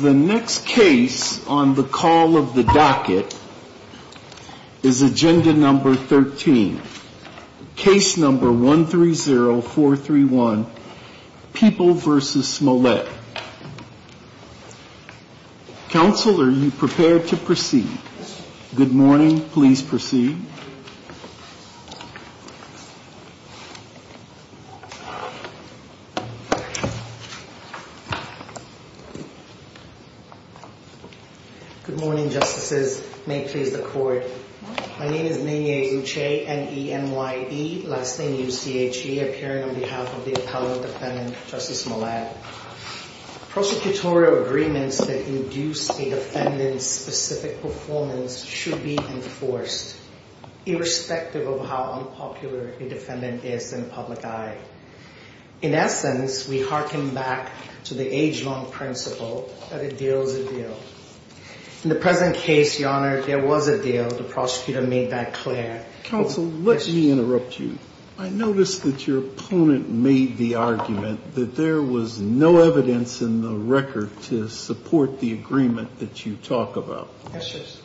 The next case on the call of the docket is Agenda No. 13, Case No. 130431, People v. Smollett. Counsel, are you prepared to proceed? Good morning. Please proceed. Good morning, Justices. May it please the Court. My name is Nene Uche, N-E-M-Y-E, last name U-C-H-E, appearing on behalf of the appellant defendant, Justice Smollett. Prosecutorial agreements that induce a defendant's specific performance should be enforced, irrespective of how unpopular a defendant is in the public eye. In essence, we hearken back to the age-long principle that a deal is a deal. In the present case, Your Honor, there was a deal. The prosecutor made that clear. Counsel, let me interrupt you. I noticed that your opponent made the argument that there was no evidence in the record to support the agreement that you talk about. Yes, Justice.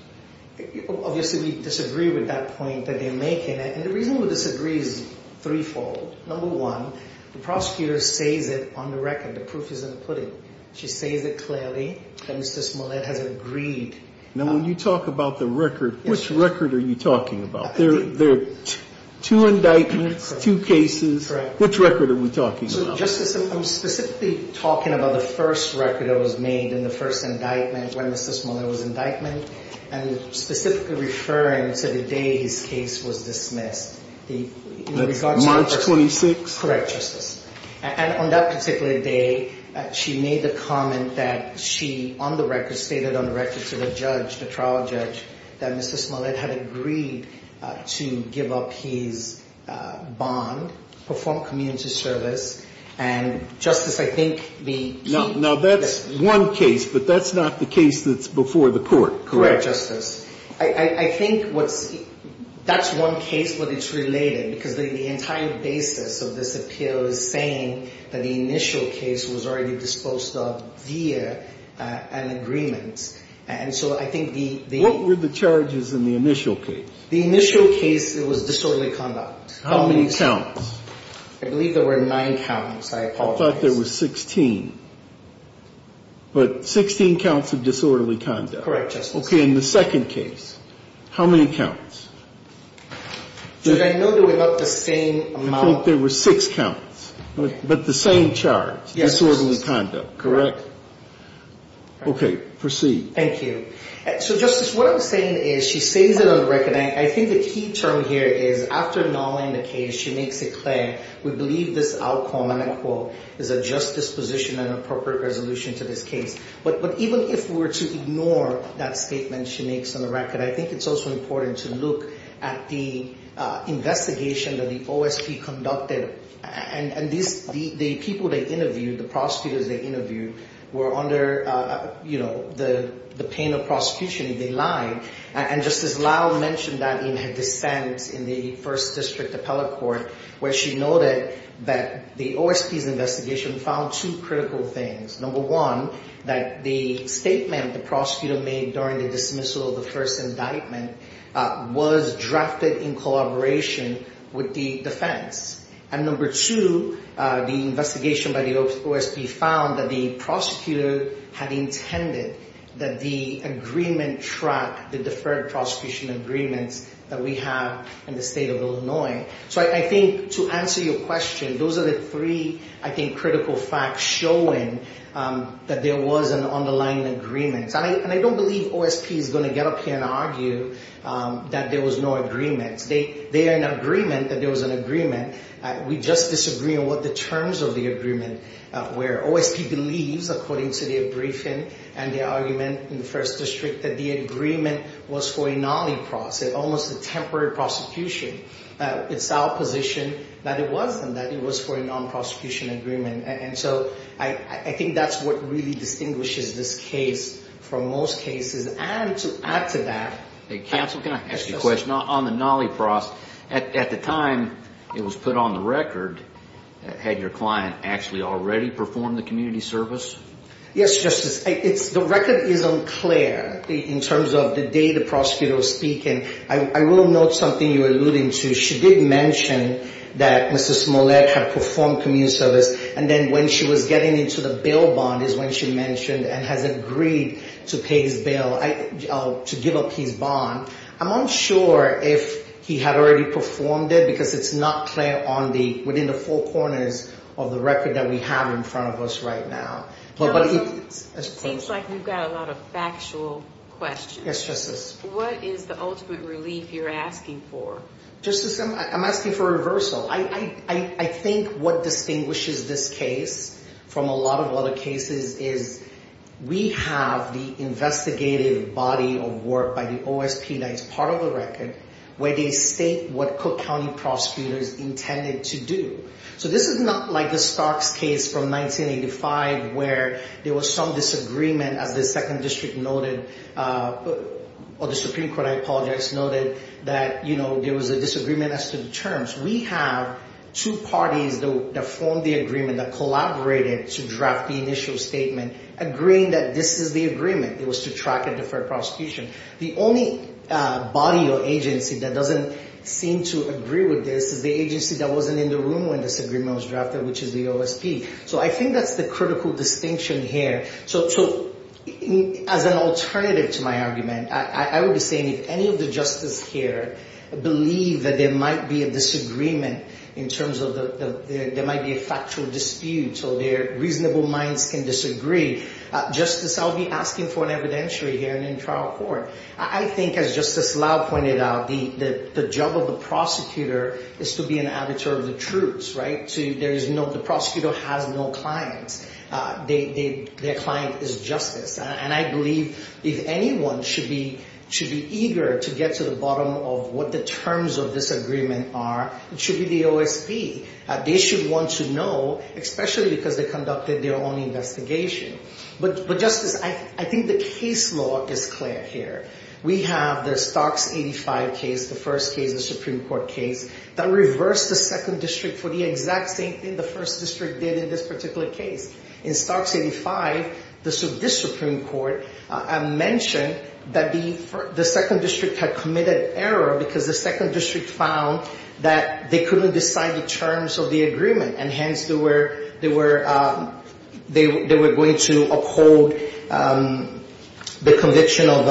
Obviously, we disagree with that point that you're making, and the reason we disagree is threefold. Number one, the prosecutor says it on the record. The proof is in the pudding. She says it clearly that Mr. Smollett has agreed. Now, when you talk about the record, which record are you talking about? There are two indictments, two cases. Correct. Which record are we talking about? So, Justice, I'm specifically talking about the first record that was made in the first indictment when Mr. Smollett was indicted, and specifically referring to the day his case was dismissed. That's March 26th? Correct, Justice. And on that particular day, she made the comment that she, on the record, stated on the record to the judge, the trial judge, that Mr. Smollett had agreed to give up his bond, perform community service, and, Justice, I think the... Now, that's one case, but that's not the case that's before the court, correct? Correct, Justice. I think that's one case, but it's related, because the entire basis of this appeal is saying that the initial case was already disposed of via an agreement, and so I think the... What were the charges in the initial case? The initial case, it was disorderly conduct. How many counts? I believe there were nine counts. I apologize. I thought there were 16. But 16 counts of disorderly conduct. Correct, Justice. Okay, in the second case, how many counts? Judge, I know there were not the same amount... I think there were six counts, but the same charge, disorderly conduct, correct? Okay, proceed. Thank you. So, Justice, what I'm saying is, she says it on the record, and I think the key term here is, after nulling the case, she makes a claim, we believe this outcome, and I quote, is a justice position and appropriate resolution to this case. But even if we were to ignore that statement she makes on the record, I think it's also important to look at the investigation that the OSP conducted. And the people they interviewed, the prosecutors they interviewed, were under the pain of prosecution if they lied. And Justice Lyle mentioned that in her dissent in the First District Appellate Court, where she noted that the OSP's investigation found two critical things. Number one, that the statement the prosecutor made during the dismissal of the first indictment was drafted in collaboration with the defense. And number two, the investigation by the OSP found that the prosecutor had intended that the agreement track the deferred prosecution agreements that we have in the state of Illinois. So I think to answer your question, those are the three, I think, critical facts showing that there was an underlying agreement. And I don't believe OSP is going to get up here and argue that there was no agreement. They are in agreement that there was an agreement. We just disagree on what the terms of the agreement were. OSP believes, according to their briefing and their argument in the First District, that the agreement was for a non-epross, almost a temporary prosecution. It's our position that it wasn't, that it was for a non-prosecution agreement. And so I think that's what really distinguishes this case from most cases. And to add to that. Counsel, can I ask you a question? On the non-epross, at the time it was put on the record, had your client actually already performed the community service? Yes, Justice. The record is unclear in terms of the day the prosecutor was speaking. I will note something you're alluding to. She did mention that Mr. Smollett had performed community service. And then when she was getting into the bail bond is when she mentioned and has agreed to pay his bail, to give up his bond. I'm unsure if he had already performed it because it's not clear on the, within the four corners of the record that we have in front of us right now. Counsel, it seems like you've got a lot of factual questions. Yes, Justice. What is the ultimate relief you're asking for? Justice, I'm asking for reversal. I think what distinguishes this case from a lot of other cases is we have the investigative body of work by the OSP that's part of the record where they state what Cook County prosecutors intended to do. So this is not like the Starks case from 1985 where there was some disagreement as the second district noted, or the Supreme Court, I apologize, noted that, you know, there was a disagreement as to the terms. We have two parties that formed the agreement that collaborated to draft the initial statement agreeing that this is the agreement. It was to track and defer prosecution. The only body or agency that doesn't seem to agree with this is the agency that wasn't in the room when this agreement was drafted, which is the OSP. So I think that's the critical distinction here. So as an alternative to my argument, I would be saying if any of the justices here believe that there might be a disagreement in terms of there might be a factual dispute so their reasonable minds can disagree, Justice, I'll be asking for an evidentiary hearing in trial court. I think, as Justice Lau pointed out, the job of the prosecutor is to be an avatar of the truth, right? The prosecutor has no clients. Their client is Justice. And I believe if anyone should be eager to get to the bottom of what the terms of this agreement are, it should be the OSP. They should want to know, especially because they conducted their own investigation. But, Justice, I think the case law is clear here. We have the Starks 85 case, the first case, the Supreme Court case, that reversed the Second District for the exact same thing the First District did in this particular case. In Starks 85, this Supreme Court mentioned that the Second District had committed error because the Second District found that they couldn't decide the terms of the agreement. And hence, they were going to uphold the conviction of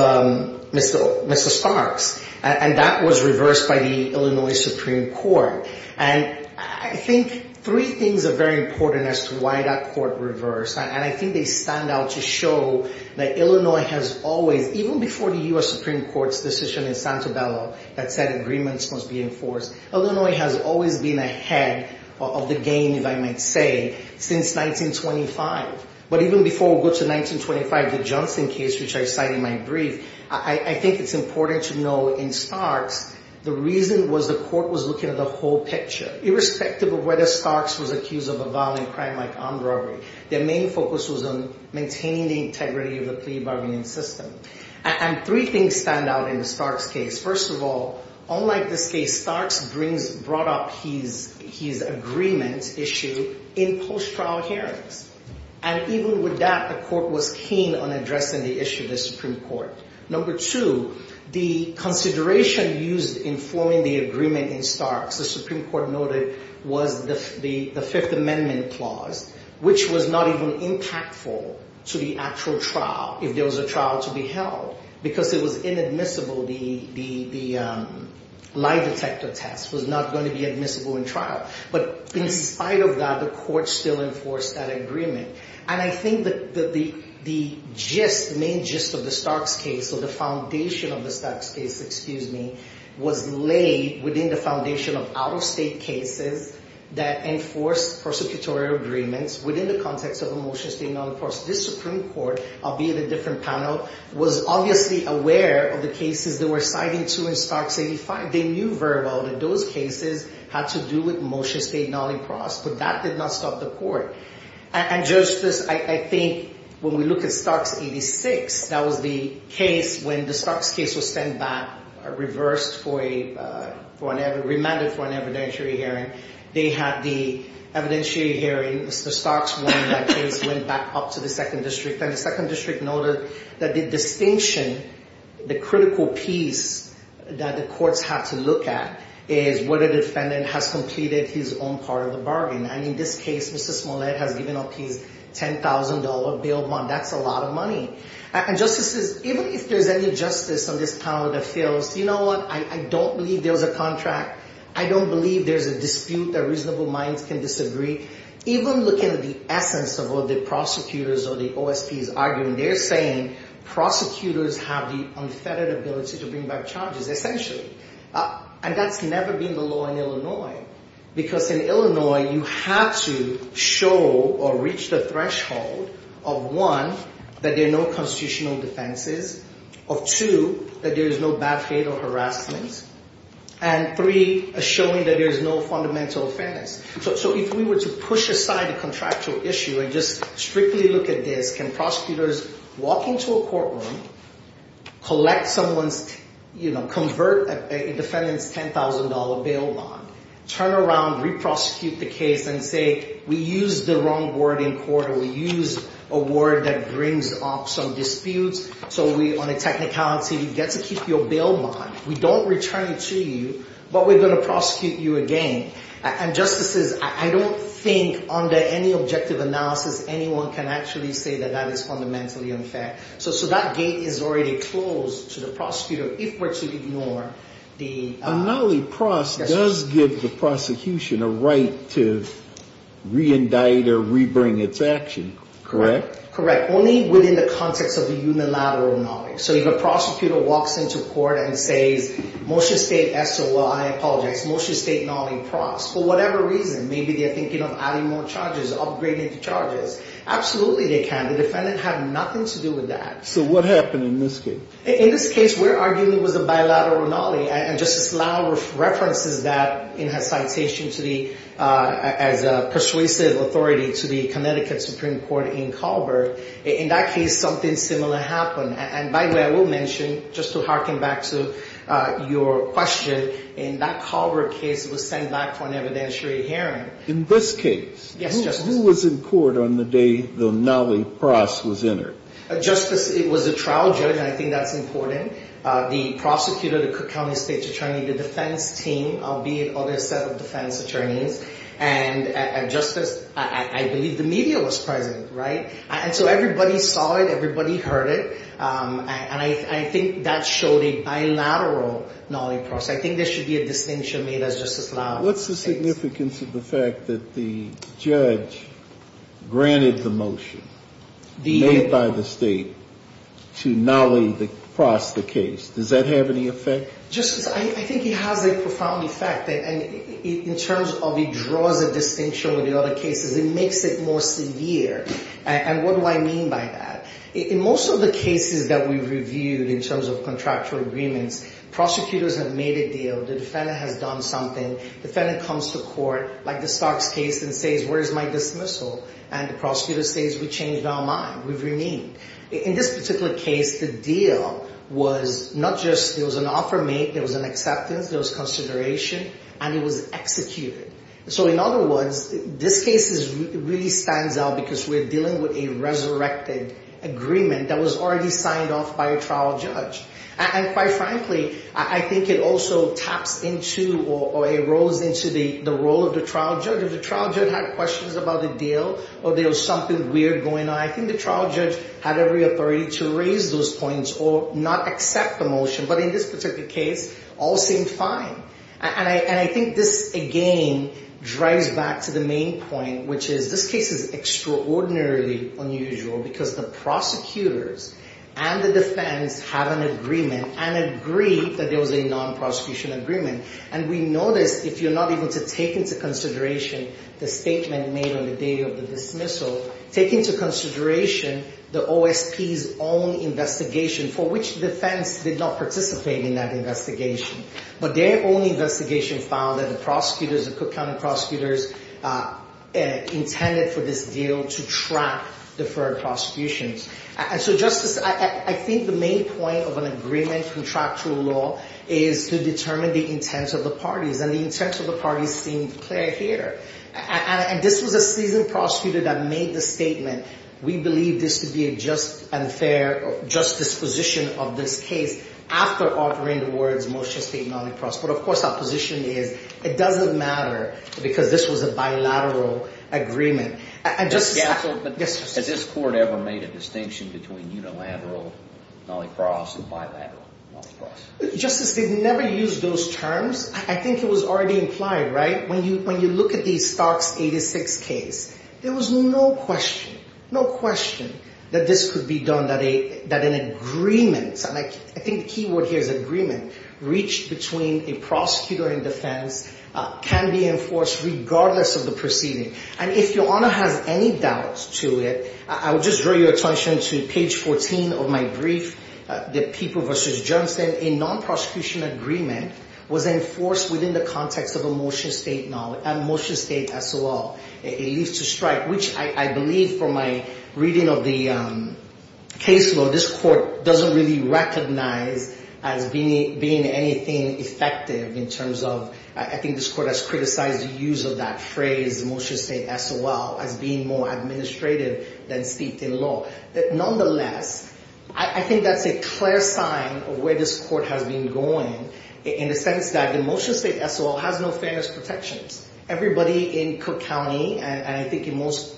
Mr. Starks. And that was reversed by the Illinois Supreme Court. And I think three things are very important as to why that court reversed. And I think they stand out to show that Illinois has always, even before the U.S. Supreme Court's decision in Santa Bella that said agreements must be enforced, Illinois has always been ahead of the game, if I might say, since 1925. But even before we go to 1925, the Johnson case, which I cite in my brief, I think it's important to know in Starks, the reason was the court was looking at the whole picture. Irrespective of whether Starks was accused of a violent crime like armed robbery. Their main focus was on maintaining the integrity of the plea bargaining system. And three things stand out in the Starks case. First of all, unlike this case, Starks brought up his agreement issue in post-trial hearings. And even with that, the court was keen on addressing the issue of the Supreme Court. Number two, the consideration used in forming the agreement in Starks, the Supreme Court noted, was the Fifth Amendment clause, which was not even impactful to the actual trial, if there was a trial to be held. Because it was inadmissible, the lie detector test was not going to be admissible in trial. But in spite of that, the court still enforced that agreement. And I think that the gist, main gist of the Starks case, or the foundation of the Starks case, excuse me, was laid within the foundation of out-of-state cases that enforced prosecutorial agreements within the context of a motion stating non-enforced. This Supreme Court, albeit a different panel, was obviously aware of the cases they were citing to in Starks 85. They knew very well that those cases had to do with motion stating non-enforced. But that did not stop the court. And justice, I think, when we look at Starks 86, that was the case when the Starks case was sent back, reversed for a, remanded for an evidentiary hearing. They had the evidentiary hearing, Mr. Starks won that case, went back up to the Second District. And the Second District noted that the distinction, the critical piece that the courts had to look at, is whether the defendant has completed his own part of the bargain. And in this case, Mr. Smollett has given up his $10,000 bail bond. That's a lot of money. And justices, even if there's any justice on this panel that feels, you know what, I don't believe there was a contract. I don't believe there's a dispute that reasonable minds can disagree. Even looking at the essence of what the prosecutors or the OSP's argument, they're saying prosecutors have the unfettered ability to bring back charges, essentially. And that's never been the law in Illinois. Because in Illinois, you have to show or reach the threshold of one, that there are no constitutional defenses. Of two, that there is no bad faith or harassment. And three, showing that there is no fundamental offense. So if we were to push aside the contractual issue and just strictly look at this, can prosecutors walk into a courtroom, collect someone's, you know, convert a defendant's $10,000 bail bond. Turn around, re-prosecute the case, and say, we used the wrong word in court, or we used a word that brings up some disputes. So we, on a technicality, get to keep your bail bond. We don't return it to you, but we're going to prosecute you again. And justices, I don't think, under any objective analysis, anyone can actually say that that is fundamentally unfair. So that gate is already closed to the prosecutor, if we're to ignore the… A nollie prosecution does give the prosecution a right to re-indict or re-bring its action, correct? Correct. Only within the context of the unilateral nollie. So if a prosecutor walks into court and says, motion state SOI, I apologize, motion state nollie prose. For whatever reason, maybe they're thinking of adding more charges, upgrading the charges. Absolutely they can. The defendant had nothing to do with that. So what happened in this case? In this case, we're arguing it was a bilateral nollie. And Justice Lau references that in her citation as a persuasive authority to the Connecticut Supreme Court in Colbert. In that case, something similar happened. And by the way, I will mention, just to harken back to your question, in that Colbert case, it was sent back for an evidentiary hearing. In this case? Yes, Justice. Who was in court on the day the nollie prose was entered? Justice, it was a trial judge, and I think that's important. The prosecutor, the Cook County State's Attorney, the defense team, albeit other set of defense attorneys, and Justice, I believe the media was present, right? And so everybody saw it, everybody heard it, and I think that showed a bilateral nollie prose. I think there should be a distinction made as Justice Lau states. What's the significance of the fact that the judge granted the motion made by the state to nollie the prose of the case? Does that have any effect? Justice, I think it has a profound effect. And in terms of it draws a distinction with the other cases, it makes it more severe. And what do I mean by that? In most of the cases that we've reviewed in terms of contractual agreements, prosecutors have made a deal. The defendant has done something. Defendant comes to court, like the Starks case, and says, where's my dismissal? And the prosecutor says, we changed our mind. We've reneged. In this particular case, the deal was not just an offer made, there was an acceptance, there was consideration, and it was executed. So in other words, this case really stands out because we're dealing with a resurrected agreement that was already signed off by a trial judge. And quite frankly, I think it also taps into or erodes into the role of the trial judge. If the trial judge had questions about the deal or there was something weird going on, I think the trial judge had every authority to raise those points or not accept the motion. But in this particular case, all seemed fine. And I think this, again, drives back to the main point, which is this case is extraordinarily unusual because the prosecutors and the defense have an agreement and agree that there was a non-prosecution agreement. And we notice, if you're not able to take into consideration the statement made on the day of the dismissal, take into consideration the OSP's own investigation, for which the defense did not participate in that investigation. But their own investigation found that the prosecutors, the Cook County prosecutors, intended for this deal to track deferred prosecutions. And so, Justice, I think the main point of an agreement, contractual law, is to determine the intents of the parties. And the intents of the parties seem clear here. And this was a seasoned prosecutor that made the statement, we believe this to be a just and fair justice position of this case, after offering the words motion statement on the cross. But, of course, our position is it doesn't matter because this was a bilateral agreement. Has this court ever made a distinction between unilateral, not a cross, and bilateral? Justice, they've never used those terms. I think it was already implied, right? When you look at the Starks 86 case, there was no question, no question that this could be done, that an agreement, and I think the key word here is agreement, reached between a prosecutor and defense can be enforced regardless of the proceeding. And if your honor has any doubts to it, I would just draw your attention to page 14 of my brief, the people versus Johnson. A non-prosecution agreement was enforced within the context of a motion statement, a motion statement as well. Which I believe from my reading of the caseload, this court doesn't really recognize as being anything effective in terms of, I think this court has criticized the use of that phrase, motion statement as well, as being more administrative than steeped in law. Nonetheless, I think that's a clear sign of where this court has been going in the sense that the motion statement as well has no fairness protections. Everybody in Cook County, and I think in most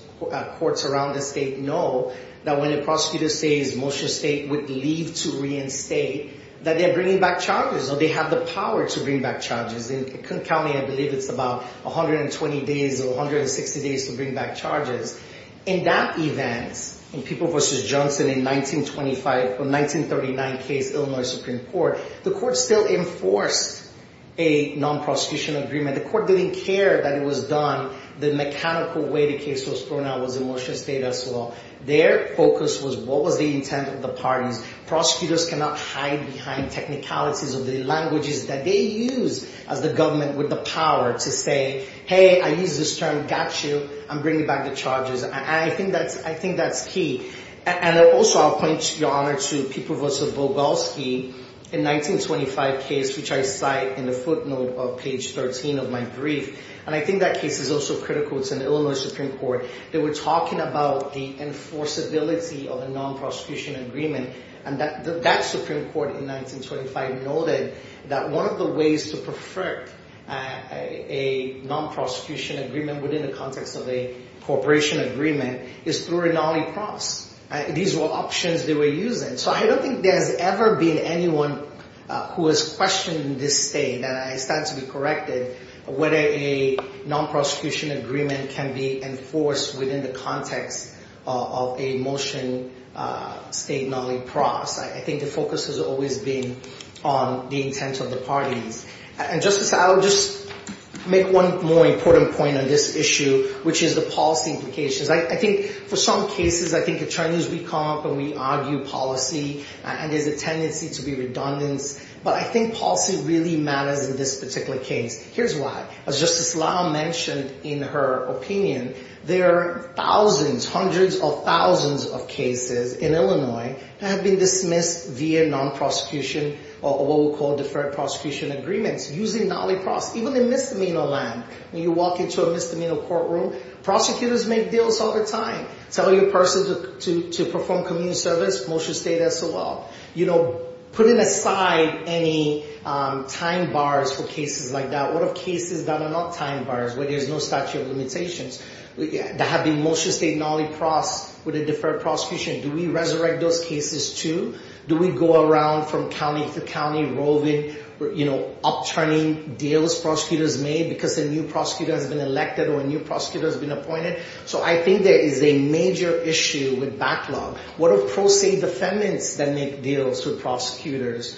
courts around the state, know that when a prosecutor says motion statement with leave to reinstate, that they're bringing back charges, or they have the power to bring back charges. In Cook County, I believe it's about 120 days or 160 days to bring back charges. In that event, in people versus Johnson in 1925 or 1939 case, Illinois Supreme Court, the court still enforced a non-prosecution agreement. The court didn't care that it was done the mechanical way the case was thrown out was in motion statement as well. Their focus was what was the intent of the parties. Prosecutors cannot hide behind technicalities of the languages that they use as the government with the power to say, hey, I use this term got you. I'm bringing back the charges. I think that's I think that's key. And also, I'll point your honor to people versus Bogolsky in 1925 case, which I cite in the footnote of page 13 of my brief. And I think that case is also critical to the Illinois Supreme Court. They were talking about the enforceability of a non-prosecution agreement. And that Supreme Court in 1925 noted that one of the ways to perfect a non-prosecution agreement within the context of a cooperation agreement is through a nollie cross. These were options they were using. So I don't think there's ever been anyone who has questioned this state that I stand to be corrected. Whether a non-prosecution agreement can be enforced within the context of a motion state nollie cross. I think the focus has always been on the intent of the parties. And Justice, I'll just make one more important point on this issue, which is the policy implications. I think for some cases, I think attorneys, we come up and we argue policy and there's a tendency to be redundant. But I think policy really matters in this particular case. Here's why. As Justice Lau mentioned in her opinion, there are thousands, hundreds of thousands of cases in Illinois that have been dismissed via non-prosecution or what we call deferred prosecution agreements using nollie cross. Even in misdemeanor land, when you walk into a misdemeanor courtroom, prosecutors make deals all the time. Tell your person to perform community service, motion state as well. You know, putting aside any time bars for cases like that, what are cases that are not time bars where there's no statute of limitations that have been motion state nollie cross with a deferred prosecution? Do we resurrect those cases too? Do we go around from county to county roving, you know, upturning deals prosecutors made because a new prosecutor has been elected or a new prosecutor has been appointed? So I think there is a major issue with backlog. What if pro se defendants then make deals with prosecutors, right? So I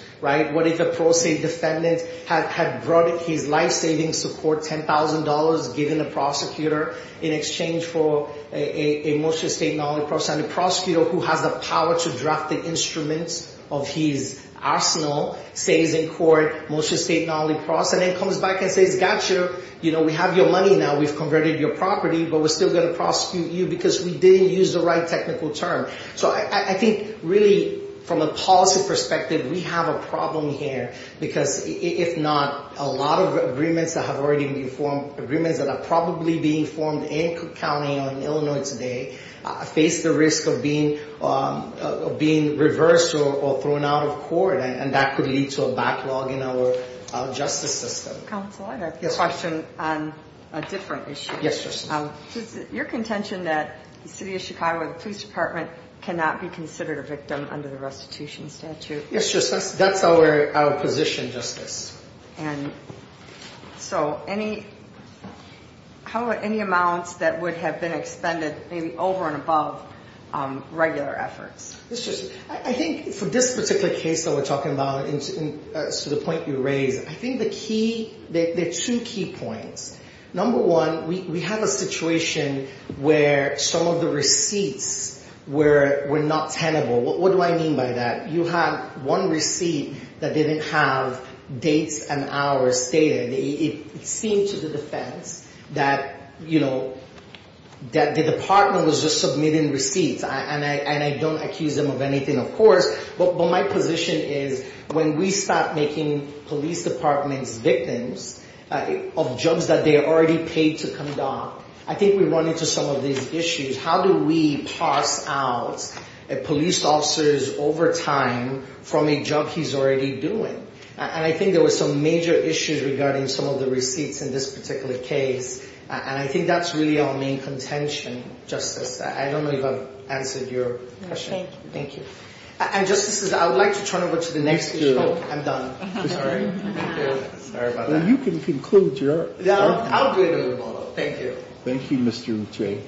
think really, from a policy perspective, we have a problem here because if not, a lot of agreements that have already been formed, agreements that are probably being formed in Cook County or in Illinois today, face the risk of being reversed or reversed in the future. Or thrown out of court. And that could lead to a backlog in our justice system. Counsel, I have a question on a different issue. Your contention that the city of Chicago, the police department cannot be considered a victim under the restitution statute. That's our position, Justice. And so any, how are any amounts that would have been expended maybe over and above regular efforts? Justice, I think for this particular case that we're talking about, to the point you raised, I think the key, there are two key points. Number one, we have a situation where some of the receipts were not tenable. What do I mean by that? You have one receipt that didn't have dates and hours stated. It seemed to the defense that the department was just submitting receipts. And I don't accuse them of anything, of course. But my position is when we start making police departments victims of jobs that they already paid to come down, I think we run into some of these issues. How do we pass out police officers over time from a job he's already doing? And I think there were some major issues regarding some of the receipts in this particular case. And I think that's really our main contention, Justice. I don't know if I've answered your question. Thank you. And, Justices, I would like to turn it over to the next issue. I'm done. Sorry. Sorry about that. Well, you can conclude your. I'll do it over the phone. Thank you. Thank you, Mr. McJay.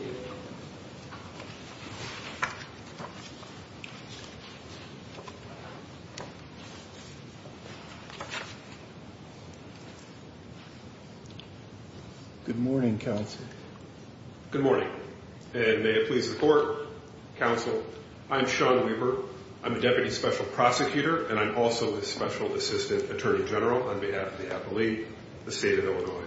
Good morning, Counsel. Good morning. And may it please the Court, Counsel, I'm Sean Weber. I'm a Deputy Special Prosecutor, and I'm also a Special Assistant Attorney General on behalf of the Appellee, the State of Illinois.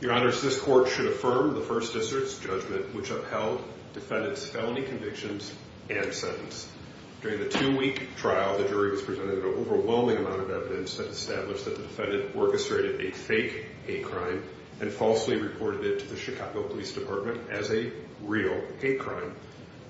Your Honors, this Court should affirm the First District's judgment which upheld defendants' felony convictions and sentence. During the two-week trial, the jury was presented an overwhelming amount of evidence. It established that the defendant orchestrated a fake hate crime and falsely reported it to the Chicago Police Department as a real hate crime.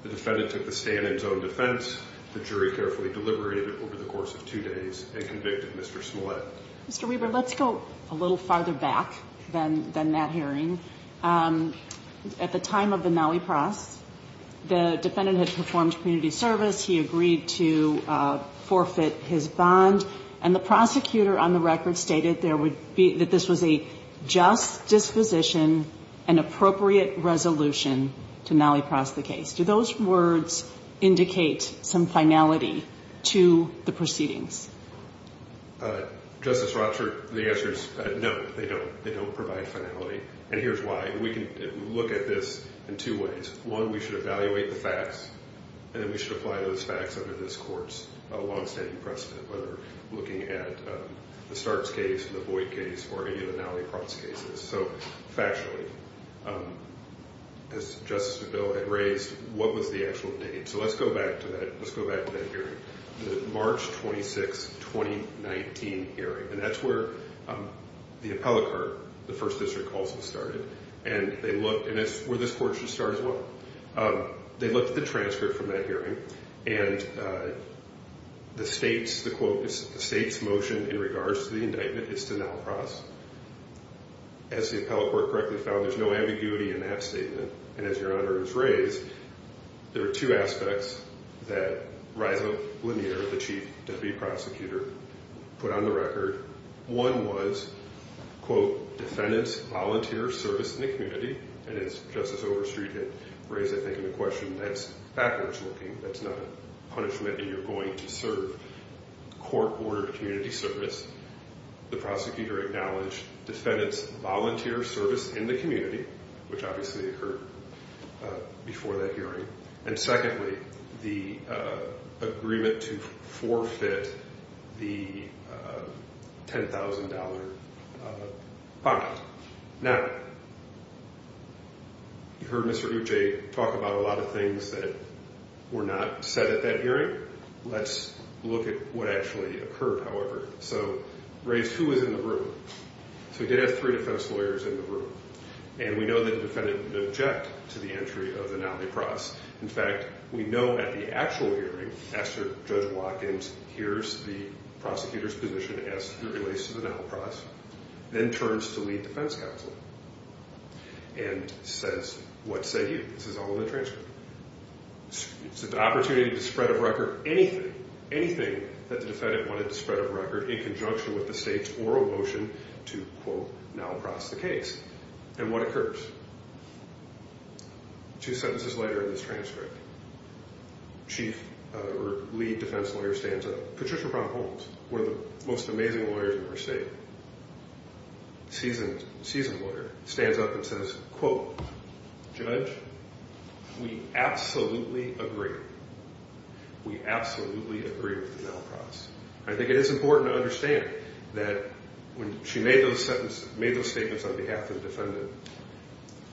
The defendant took the stand in his own defense. The jury carefully deliberated over the course of two days and convicted Mr. Smollett. Mr. Weber, let's go a little farther back than that hearing. At the time of the Nowey Pross, the defendant had performed community service. He agreed to forfeit his bond. And the prosecutor on the record stated that this was a just disposition and appropriate resolution to Nowey Pross the case. Do those words indicate some finality to the proceedings? Justice Rochert, the answer is no, they don't. They don't provide finality. And here's why. We can look at this in two ways. One, we should evaluate the facts, and then we should apply those facts under this court's long-standing precedent, whether looking at the Starts case, the Boyd case, or any of the Nowey Pross cases. So, factually, as Justice O'Dell had raised, what was the actual date? So let's go back to that hearing, the March 26, 2019 hearing. And that's where the appellate court, the First District, also started. And that's where this court should start as well. They looked at the transcript from that hearing, and the state's motion in regards to the indictment is to Nowey Pross. As the appellate court correctly found, there's no ambiguity in that statement. And as Your Honor has raised, there are two aspects that Reza Lanier, the Chief Deputy Prosecutor, put on the record. One was, quote, defendant's volunteer service in the community. And as Justice Overstreet had raised, I think, in the question, that's backwards looking. That's not a punishment, and you're going to serve court-ordered community service. The prosecutor acknowledged defendant's volunteer service in the community, which obviously occurred before that hearing. And secondly, the agreement to forfeit the $10,000 bond. Now, you heard Mr. Ucce talk about a lot of things that were not said at that hearing. Let's look at what actually occurred, however. So, Reza, who was in the room? So he did have three defense lawyers in the room. And we know that the defendant would object to the entry of the Nowey Pross. In fact, we know at the actual hearing, after Judge Watkins hears the prosecutor's position as it relates to the Nowey Pross, then turns to lead defense counsel and says, what say you? This is all in the transcript. It's an opportunity to spread of record anything, anything that the defendant wanted to spread of record in conjunction with the state's oral motion to, quote, Nowey Pross the case. And what occurs? Two sentences later in this transcript, chief or lead defense lawyer stands up. Patricia Brown Holmes, one of the most amazing lawyers we've ever seen, seasoned lawyer, stands up and says, quote, Judge, we absolutely agree. We absolutely agree with the Nowey Pross. I think it is important to understand that when she made those statements on behalf of the defendant,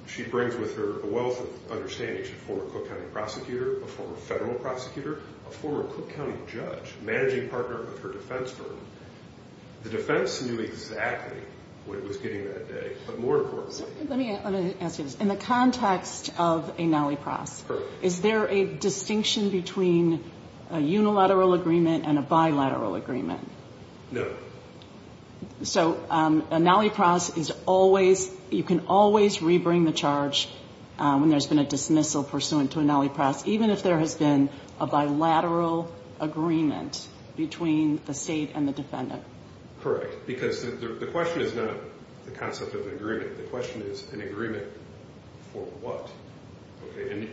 she brings with her a wealth of understanding. She's a former Cook County prosecutor, a former federal prosecutor, a former Cook County judge, managing partner of her defense firm. The defense knew exactly what it was getting that day. But more importantly — Let me ask you this. In the context of a Nowey Pross, is there a distinction between a unilateral agreement and a bilateral agreement? No. So a Nowey Pross is always — you can always rebring the charge when there's been a dismissal pursuant to a Nowey Pross, even if there has been a bilateral agreement between the state and the defendant? Correct. Because the question is not the concept of an agreement. The question is an agreement for what. And,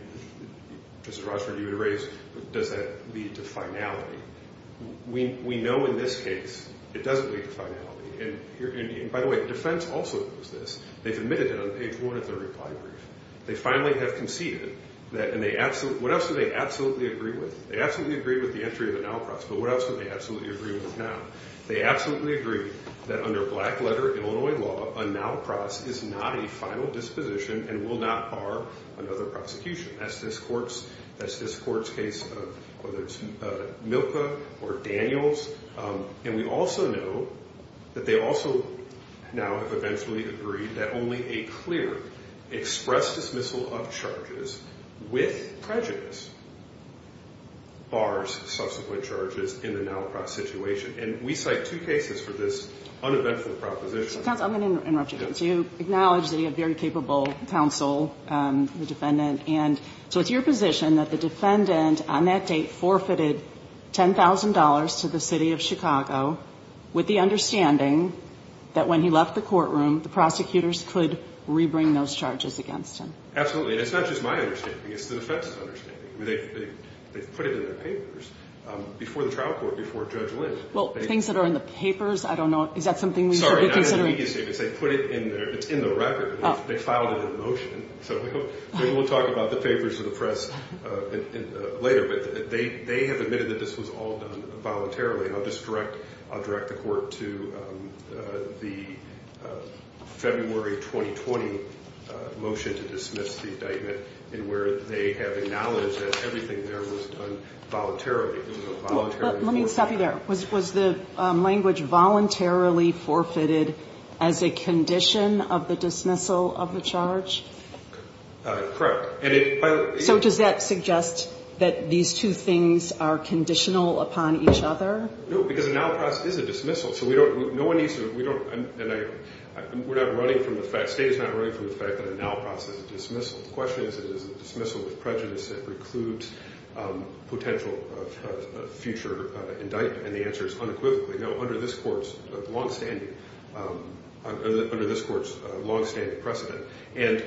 Mr. Rochford, you had raised, does that lead to finality? We know in this case it doesn't lead to finality. And, by the way, defense also knows this. They've admitted it on page one of their reply brief. They finally have conceded that — and what else do they absolutely agree with? They absolutely agree with the entry of a Nowey Pross. But what else would they absolutely agree with now? They absolutely agree that under black-letter Illinois law, a Nowey Pross is not a final disposition and will not bar another prosecution. That's this court's case, whether it's Milka or Daniels. And we also know that they also now have eventually agreed that only a clear express dismissal of charges with prejudice bars subsequent charges in the Nowey Pross situation. And we cite two cases for this uneventful proposition. Counsel, I'm going to interrupt you. You acknowledge that you have very capable counsel, the defendant. And so it's your position that the defendant on that date forfeited $10,000 to the city of Chicago with the understanding that when he left the courtroom, the prosecutors could rebring those charges against him. Absolutely. And it's not just my understanding. It's the defense's understanding. They've put it in their papers before the trial court, before Judge Lin. Well, things that are in the papers, I don't know. Is that something we should be considering? Sorry, not in the media statements. They put it in there. It's in the record. They filed it in motion. So maybe we'll talk about the favors of the press later. But they have admitted that this was all done voluntarily. I'll direct the court to the February 2020 motion to dismiss the indictment in where they have acknowledged that everything there was done voluntarily. Let me stop you there. Was the language voluntarily forfeited as a condition of the dismissal of the charge? So does that suggest that these two things are conditional upon each other? No, because a now process is a dismissal. We're not running from the fact, the state is not running from the fact that a now process is a dismissal. The question is, is it a dismissal with prejudice that precludes potential future indictment? And the answer is unequivocally no, under this court's longstanding precedent. And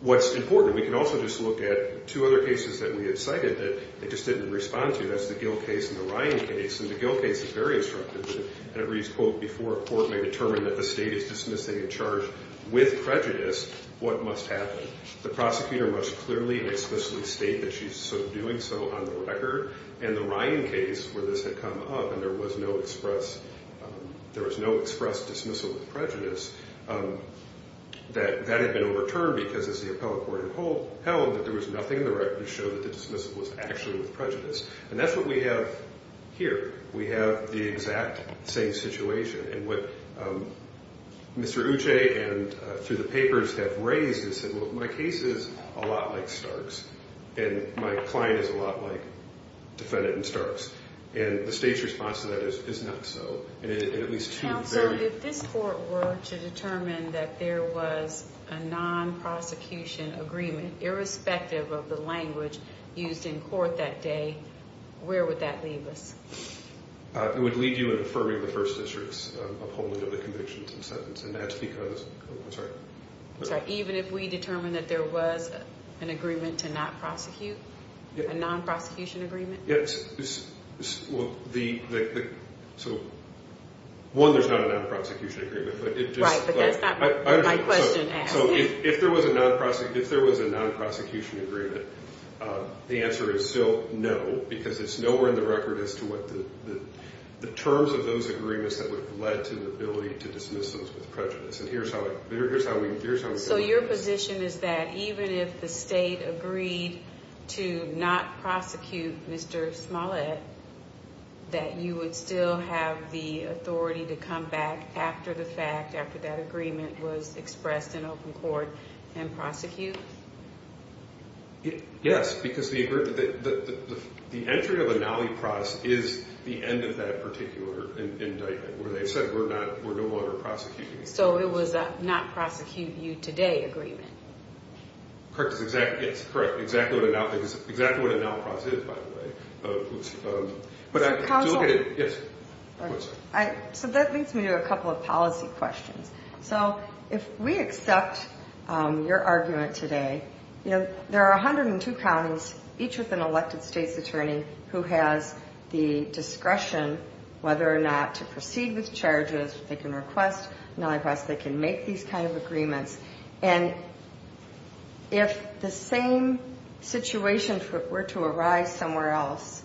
what's important, we can also just look at two other cases that we have cited that they just didn't respond to. That's the Gill case and the Ryan case. And the Gill case is very instructive. And it reads, quote, before a court may determine that the state is dismissing a charge with prejudice, what must happen? The prosecutor must clearly and explicitly state that she's sort of doing so on the record. And the Ryan case, where this had come up and there was no express dismissal with prejudice, that had been overturned because, as the appellate court held, that there was nothing in the record to show that the dismissal was actually with prejudice. And that's what we have here. We have the exact same situation. And what Mr. Uche and through the papers have raised is that, well, my case is a lot like Stark's. And my client is a lot like defendant in Stark's. And the state's response to that is not so. And at least two very- Counsel, if this court were to determine that there was a non-prosecution agreement, irrespective of the language used in court that day, where would that leave us? It would leave you in affirming the First District's upholding of the convictions and sentence. And that's because-oh, I'm sorry. Even if we determine that there was an agreement to not prosecute, a non-prosecution agreement? Yes. Well, the-so, one, there's not a non-prosecution agreement. Right, but that's not what my question asked. So if there was a non-prosecution agreement, the answer is still no, because it's nowhere in the record as to what the terms of those agreements that would have led to the ability to dismiss those with prejudice. And here's how we can look at it. So your position is that even if the state agreed to not prosecute Mr. Smollett, that you would still have the authority to come back after the fact, after that agreement was expressed in open court, and prosecute? Yes, because the entry of a nollie prosecution is the end of that particular indictment, where they've said we're no longer prosecuting. So it was a not-prosecute-you-today agreement. Correct. It's correct. Exactly what a nollie prosecution is, by the way. But to look at it, yes. So that leads me to a couple of policy questions. So if we accept your argument today, you know, there are 102 counties, each with an elected state's attorney who has the discretion whether or not to proceed with charges. They can request a nollie prosecution. They can make these kind of agreements. And if the same situation were to arise somewhere else,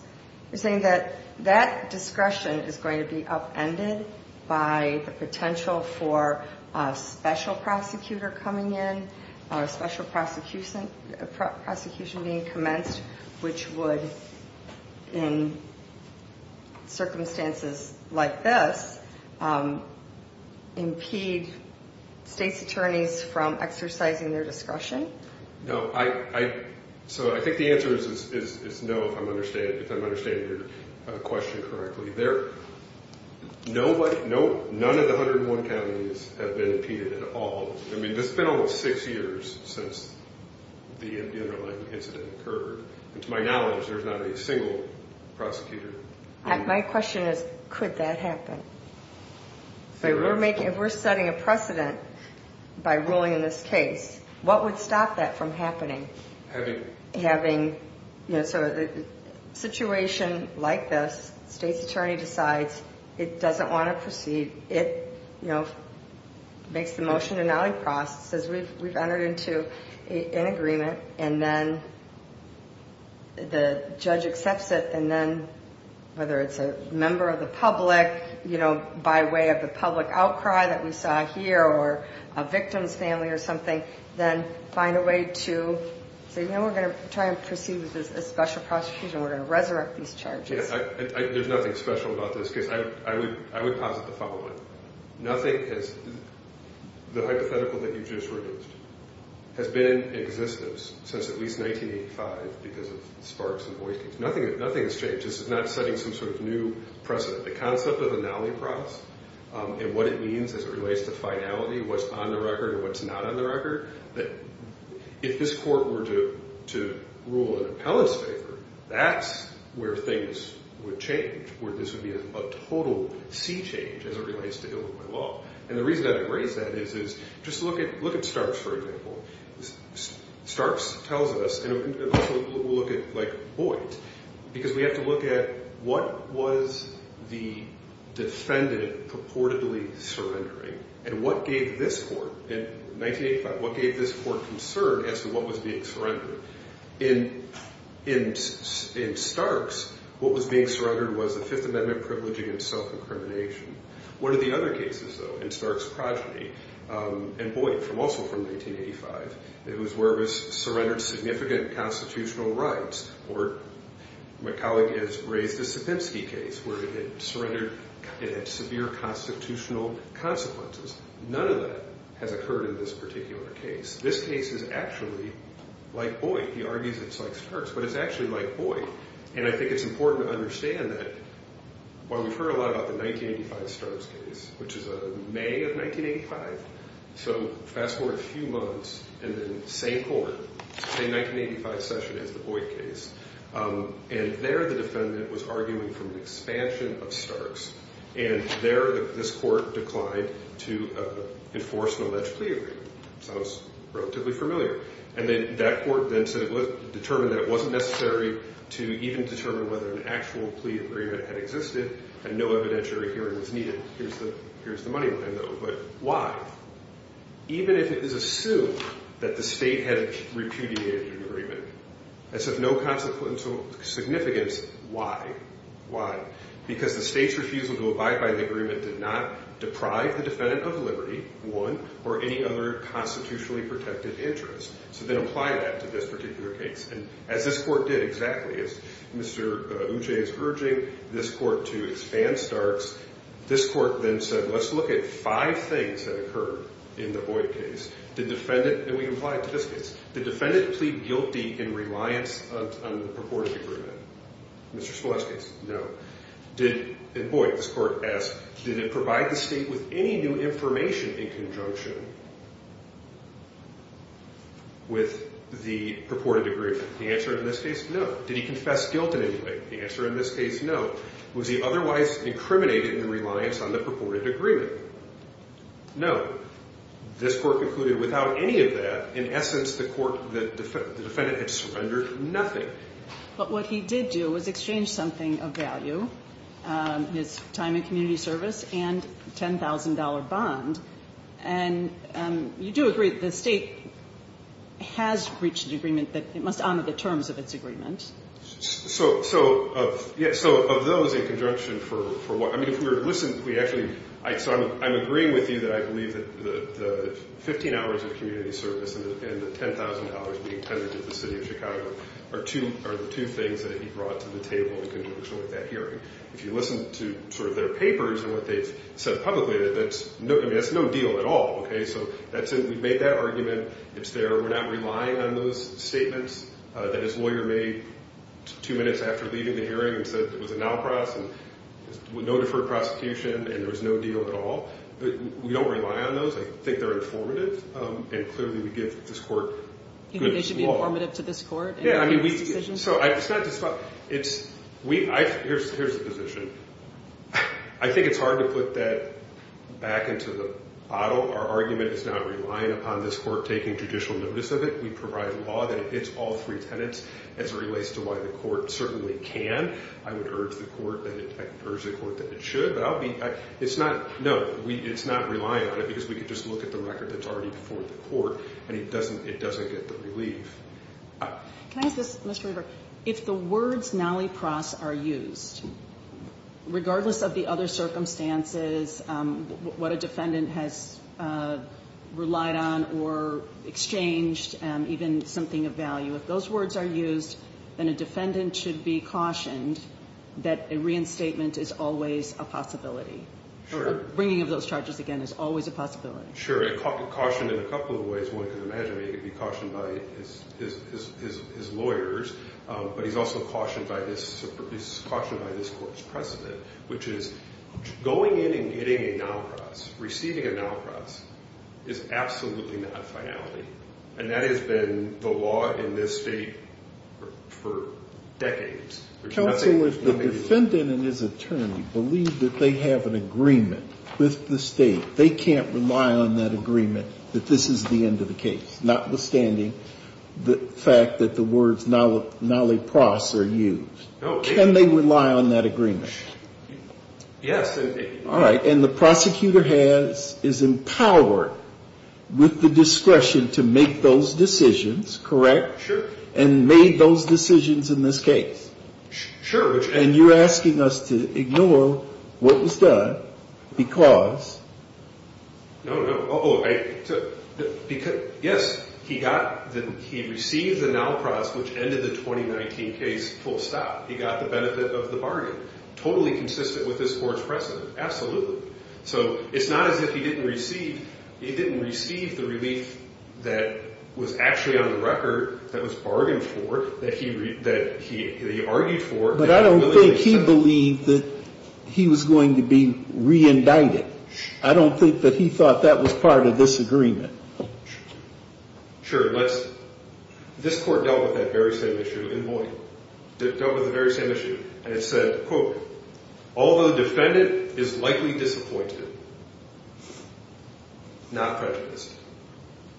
you're saying that that discretion is going to be upended by the potential for a special prosecutor coming in, a special prosecution being commenced, which would, in circumstances like this, impede states' attorneys from exercising their discretion? No. So I think the answer is no, if I'm understanding your question correctly. None of the 101 counties have been impeded at all. I mean, it's been almost six years since the underlying incident occurred. And to my knowledge, there's not a single prosecutor. My question is, could that happen? If we're setting a precedent by ruling in this case, what would stop that from happening? So a situation like this, the state's attorney decides it doesn't want to proceed, it makes the motion to nollie cross, says we've entered into an agreement, and then the judge accepts it, and then whether it's a member of the public, by way of the public outcry that we saw here or a victim's family or something, then find a way to say, you know, we're going to try and proceed with a special prosecution. We're going to resurrect these charges. There's nothing special about this case. I would posit the following. Nothing has the hypothetical that you just reduced has been in existence since at least 1985 because of sparks and voicings. Nothing has changed. This is not setting some sort of new precedent. The concept of a nollie cross and what it means as it relates to finality, what's on the record and what's not on the record, if this court were to rule an appellate's favor, that's where things would change, where this would be a total sea change as it relates to Illinois law. And the reason I raise that is just look at Starks, for example. Starks tells us, and we'll look at, like, Boyd, because we have to look at what was the defendant purportedly surrendering and what gave this court in 1985, what gave this court concern as to what was being surrendered. In Starks, what was being surrendered was the Fifth Amendment privilege against self-incrimination. What are the other cases, though, in Starks' progeny and Boyd, also from 1985, it was where it was surrendered significant constitutional rights or my colleague has raised the Sapinski case where it had surrendered, it had severe constitutional consequences. None of that has occurred in this particular case. This case is actually like Boyd. He argues it's like Starks, but it's actually like Boyd. And I think it's important to understand that while we've heard a lot about the 1985 Starks case, which is a May of 1985, so fast forward a few months, and then same court, same 1985 session as the Boyd case, and there the defendant was arguing for an expansion of Starks, and there this court declined to enforce an alleged plea agreement. Sounds relatively familiar. And then that court then said it was determined that it wasn't necessary to even determine whether an actual plea agreement had existed and no evidentiary hearing was needed. Here's the money line, though, but why? Even if it is assumed that the state had repudiated an agreement, as of no consequential significance, why? Why? Because the state's refusal to abide by the agreement did not deprive the defendant of liberty, one, or any other constitutionally protected interest. So then apply that to this particular case. And as this court did exactly, as Mr. Uche is urging this court to expand Starks, this court then said, let's look at five things that occurred in the Boyd case. The defendant, and we can apply it to this case, did the defendant plead guilty in reliance on the purported agreement? In Mr. Scolese's case, no. In Boyd, this court asked, did it provide the state with any new information in conjunction with the purported agreement? The answer in this case, no. Did he confess guilt in any way? The answer in this case, no. Was he otherwise incriminated in reliance on the purported agreement? No. This court concluded without any of that, in essence, the defendant had surrendered nothing. But what he did do was exchange something of value, his time in community service and $10,000 bond. And you do agree that the state has reached an agreement that it must honor the terms of its agreement. So of those in conjunction for what, I mean, if we were to listen, we actually, so I'm agreeing with you that I believe that the 15 hours of community service and the $10,000 being tended to the city of Chicago are the two things that he brought to the table in conjunction with that hearing. If you listen to sort of their papers and what they've said publicly, that's no deal at all. So we've made that argument. It's there. We're not relying on those statements that his lawyer made two minutes after leaving the hearing and said it was a no-cross and no deferred prosecution and there was no deal at all. We don't rely on those. I think they're informative, and clearly we give this court good law. You think they should be informative to this court in making these decisions? Yeah, I mean, so it's not just about, it's, here's the position. I think it's hard to put that back into the bottle. Our argument is not relying upon this court taking judicial notice of it. We provide law that it hits all three tenets as it relates to why the court certainly can. I would urge the court that it should, but I'll be, it's not, no, it's not relying on it because we could just look at the record that's already before the court, and it doesn't get the relief. Can I ask this, Mr. Weber? If the words nalipras are used, regardless of the other circumstances, what a defendant has relied on or exchanged, even something of value, if those words are used, then a defendant should be cautioned that a reinstatement is always a possibility. Bringing of those charges again is always a possibility. Sure. I caution in a couple of ways. One, because imagine he could be cautioned by his lawyers, but he's also cautioned by this court's precedent, which is going in and getting a nalipras, receiving a nalipras, is absolutely not finality. And that has been the law in this state for decades. Counsel, if the defendant and his attorney believe that they have an agreement with the state, they can't rely on that agreement that this is the end of the case, notwithstanding the fact that the words nalipras are used. No. Can they rely on that agreement? Yes. All right. And the prosecutor has, is empowered with the discretion to make those decisions, correct? Sure. And made those decisions in this case. Sure. And you're asking us to ignore what was done because? No, no. Because, yes, he got, he received the nalipras, which ended the 2019 case, full stop. He got the benefit of the bargain. Totally consistent with this court's precedent. Absolutely. So it's not as if he didn't receive, he didn't receive the relief that was actually on the record, that was bargained for, that he argued for. But I don't think he believed that he was going to be re-indicted. I don't think that he thought that was part of this agreement. Sure. Let's, this court dealt with that very same issue in Boynton. Dealt with the very same issue. And it said, quote, although the defendant is likely disappointed, not prejudiced.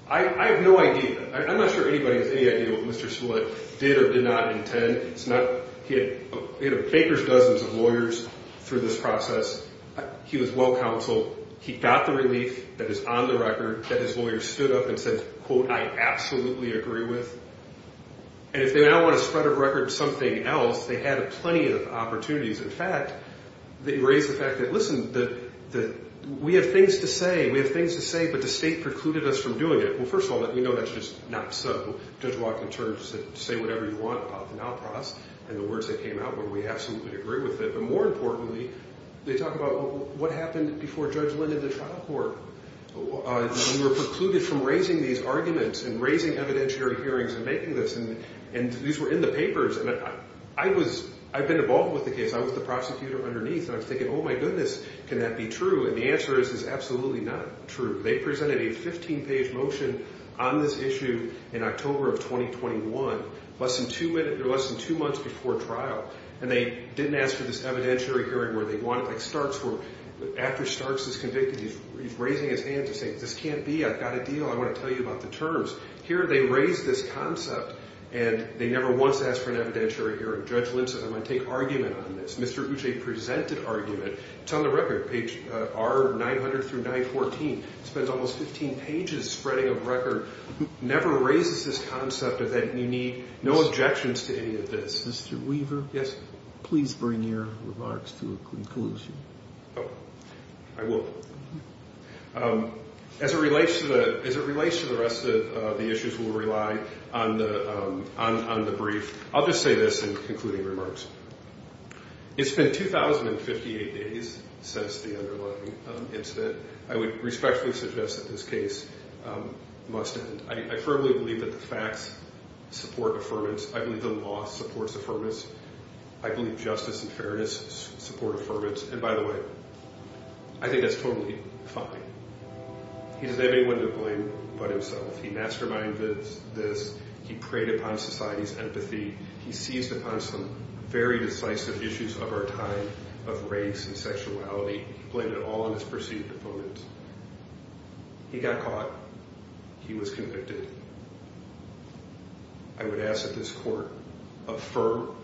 I have no idea. I'm not sure anybody has any idea what Mr. Smollett did or did not intend. It's not, he had baker's dozens of lawyers through this process. He was well counseled. He got the relief that is on the record that his lawyers stood up and said, quote, I absolutely agree with. And if they now want to spread a record of something else, they had plenty of opportunities. In fact, they raised the fact that, listen, that we have things to say. We have things to say, but the state precluded us from doing it. Well, first of all, let me know that's just not so. Judge Watkins said, say whatever you want about the now process. And the words that came out were, we absolutely agree with it. But more importantly, they talk about what happened before Judge Linn did the trial court. We were precluded from raising these arguments and raising evidentiary hearings and making this. And these were in the papers. And I was, I've been involved with the case. I was the prosecutor underneath. And I was thinking, oh, my goodness, can that be true? And the answer is, it's absolutely not true. They presented a 15-page motion on this issue in October of 2021, less than two months before trial. And they didn't ask for this evidentiary hearing where they wanted, like Starks, where after Starks is convicted, he's raising his hands and saying, this can't be. I've got a deal. I want to tell you about the terms. Here they raised this concept, and they never once asked for an evidentiary hearing. Judge Linn said, I'm going to take argument on this. Mr. Gucce presented argument. It's on the record, page R900 through 914. It spends almost 15 pages spreading of record. Never raises this concept of that you need no objections to any of this. Mr. Weaver? Yes. Please bring your remarks to a conclusion. Oh, I will. As it relates to the rest of the issues, we'll rely on the brief. I'll just say this in concluding remarks. It's been 2058 days since the underlying incident. I would respectfully suggest that this case must end. I firmly believe that the facts support affirmance. I believe the law supports affirmance. I believe justice and fairness support affirmance. And by the way, I think that's totally fine. He doesn't have anyone to blame but himself. He masterminded this. He preyed upon society's empathy. He seized upon some very decisive issues of our time of race and sexuality. He blamed it all on his perceived opponents. He got caught. He was convicted. I would ask that this court affirm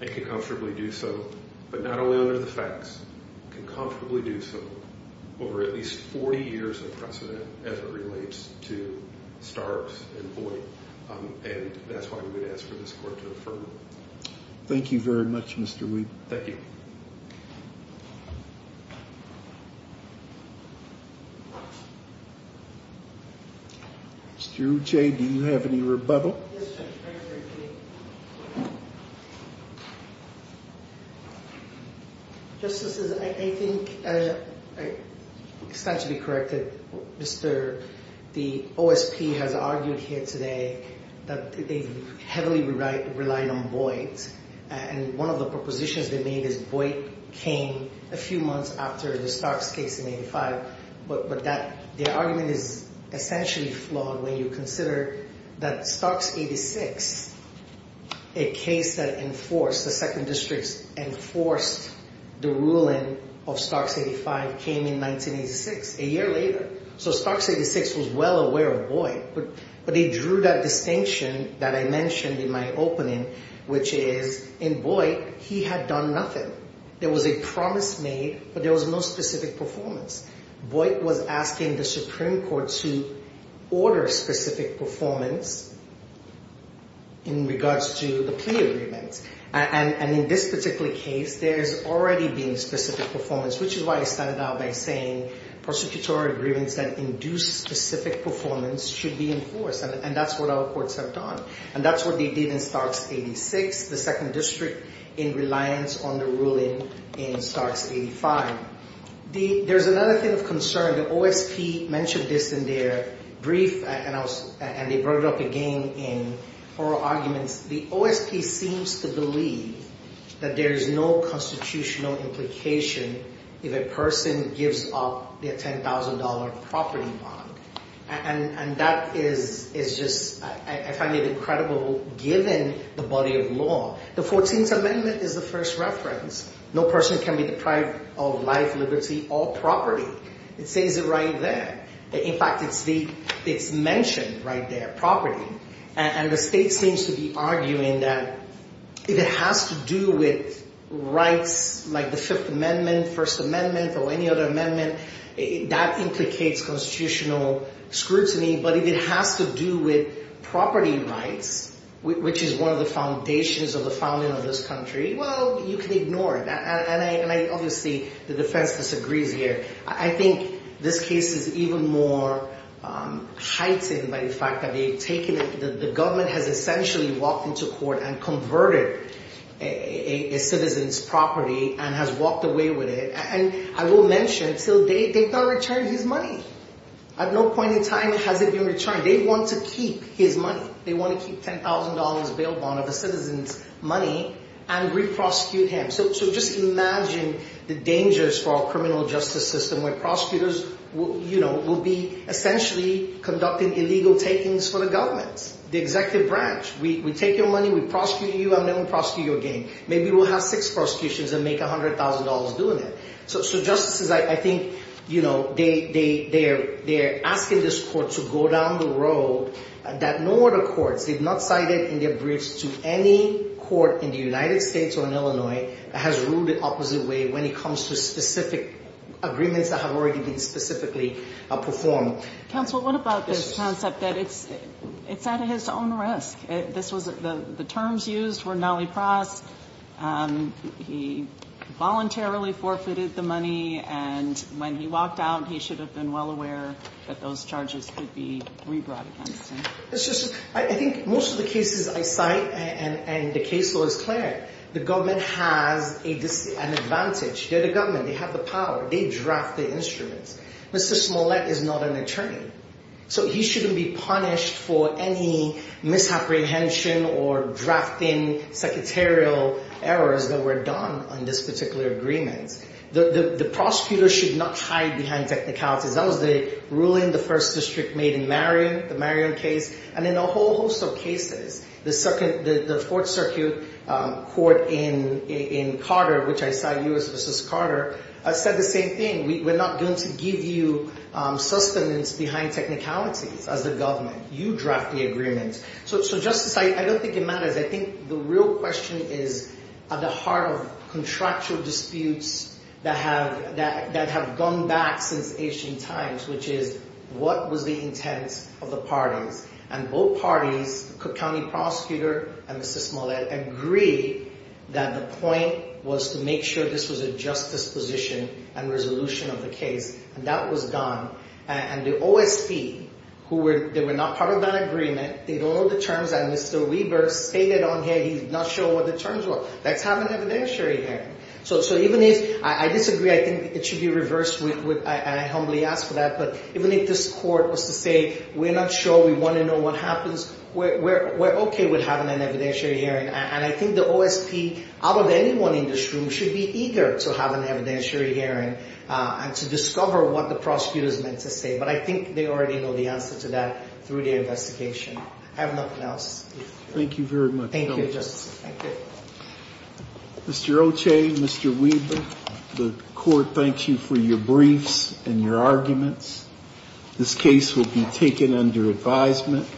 and can comfortably do so, but not only under the facts, can comfortably do so over at least 40 years of precedent as it relates to Starks and Boyd. And that's why we would ask for this court to affirm. Thank you very much, Mr. Weed. Thank you. Mr. Uche, do you have any rebuttal? Justices, I think it's not to be corrected. The OSP has argued here today that they heavily relied on Boyd. And one of the propositions they made is Boyd came a few months after the Starks case in 85. But the argument is essentially flawed when you consider that Starks 86, a case that enforced the second district's enforced the ruling of Starks 85 came in 1986, a year later. So Starks 86 was well aware of Boyd. But they drew that distinction that I mentioned in my opening, which is in Boyd, he had done nothing. There was a promise made, but there was no specific performance. Boyd was asking the Supreme Court to order specific performance in regards to the plea agreement. And in this particular case, there's already been specific performance, which is why I started out by saying prosecutorial agreements that induce specific performance should be enforced. And that's what our courts have done. And that's what they did in Starks 86, the second district in reliance on the ruling in Starks 85. There's another thing of concern. The OSP mentioned this in their brief, and they brought it up again in oral arguments. The OSP seems to believe that there is no constitutional implication if a person gives up their $10,000 property bond. And that is just, I find it incredible, given the body of law. The 14th Amendment is the first reference. No person can be deprived of life, liberty, or property. It says it right there. In fact, it's mentioned right there, property. And the state seems to be arguing that if it has to do with rights like the Fifth Amendment, First Amendment, or any other amendment, that implicates constitutional scrutiny. But if it has to do with property rights, which is one of the foundations of the founding of this country, well, you can ignore it. And I obviously, the defense disagrees here. I think this case is even more heightened by the fact that the government has essentially walked into court and converted a citizen's property and has walked away with it. And I will mention, they've not returned his money. At no point in time has it been returned. They want to keep his money. They want to keep $10,000 bail bond of a citizen's money and re-prosecute him. So just imagine the dangers for our criminal justice system where prosecutors will be essentially conducting illegal takings for the government. The executive branch, we take your money, we prosecute you, and then we prosecute you again. Maybe we'll have six prosecutions and make $100,000 doing it. So justices, I think, you know, they're asking this court to go down the road that no other courts, they've not cited in their briefs to any court in the United States or in Illinois that has ruled the opposite way when it comes to specific agreements that have already been specifically performed. Counsel, what about this concept that it's at his own risk? The terms used were nallypras. He voluntarily forfeited the money, and when he walked out, he should have been well aware that those charges could be re-brought against him. I think most of the cases I cite and the case law is clear. The government has an advantage. They're the government. They have the power. They draft the instruments. Mr. Smollett is not an attorney. So he shouldn't be punished for any misapprehension or drafting secretarial errors that were done on this particular agreement. The prosecutor should not hide behind technicalities. That was the ruling the First District made in Marion, the Marion case, and in a whole host of cases. The Fourth Circuit Court in Carter, which I cite, U.S. v. Carter, said the same thing. We're not going to give you sustenance behind technicalities as the government. You draft the agreement. So, Justice, I don't think it matters. I think the real question is at the heart of contractual disputes that have gone back since ancient times, which is what was the intent of the parties. And both parties, Cook County prosecutor and Mr. Smollett, agree that the point was to make sure this was a justice position and resolution of the case. And that was done. And the OSP, who were not part of that agreement, did all the terms that Mr. Weber stated on here. He's not sure what the terms were. That's having evidentiary here. I disagree. I think it should be reversed. I humbly ask for that. But even if this court was to say we're not sure, we want to know what happens, we're okay with having an evidentiary hearing. And I think the OSP, out of anyone in this room, should be eager to have an evidentiary hearing and to discover what the prosecutor is meant to say. But I think they already know the answer to that through the investigation. I have nothing else. Thank you very much. Thank you, Justice. Thank you. Mr. Oche, Mr. Weber, the court thanks you for your briefs and your arguments. This case will be taken under advisement.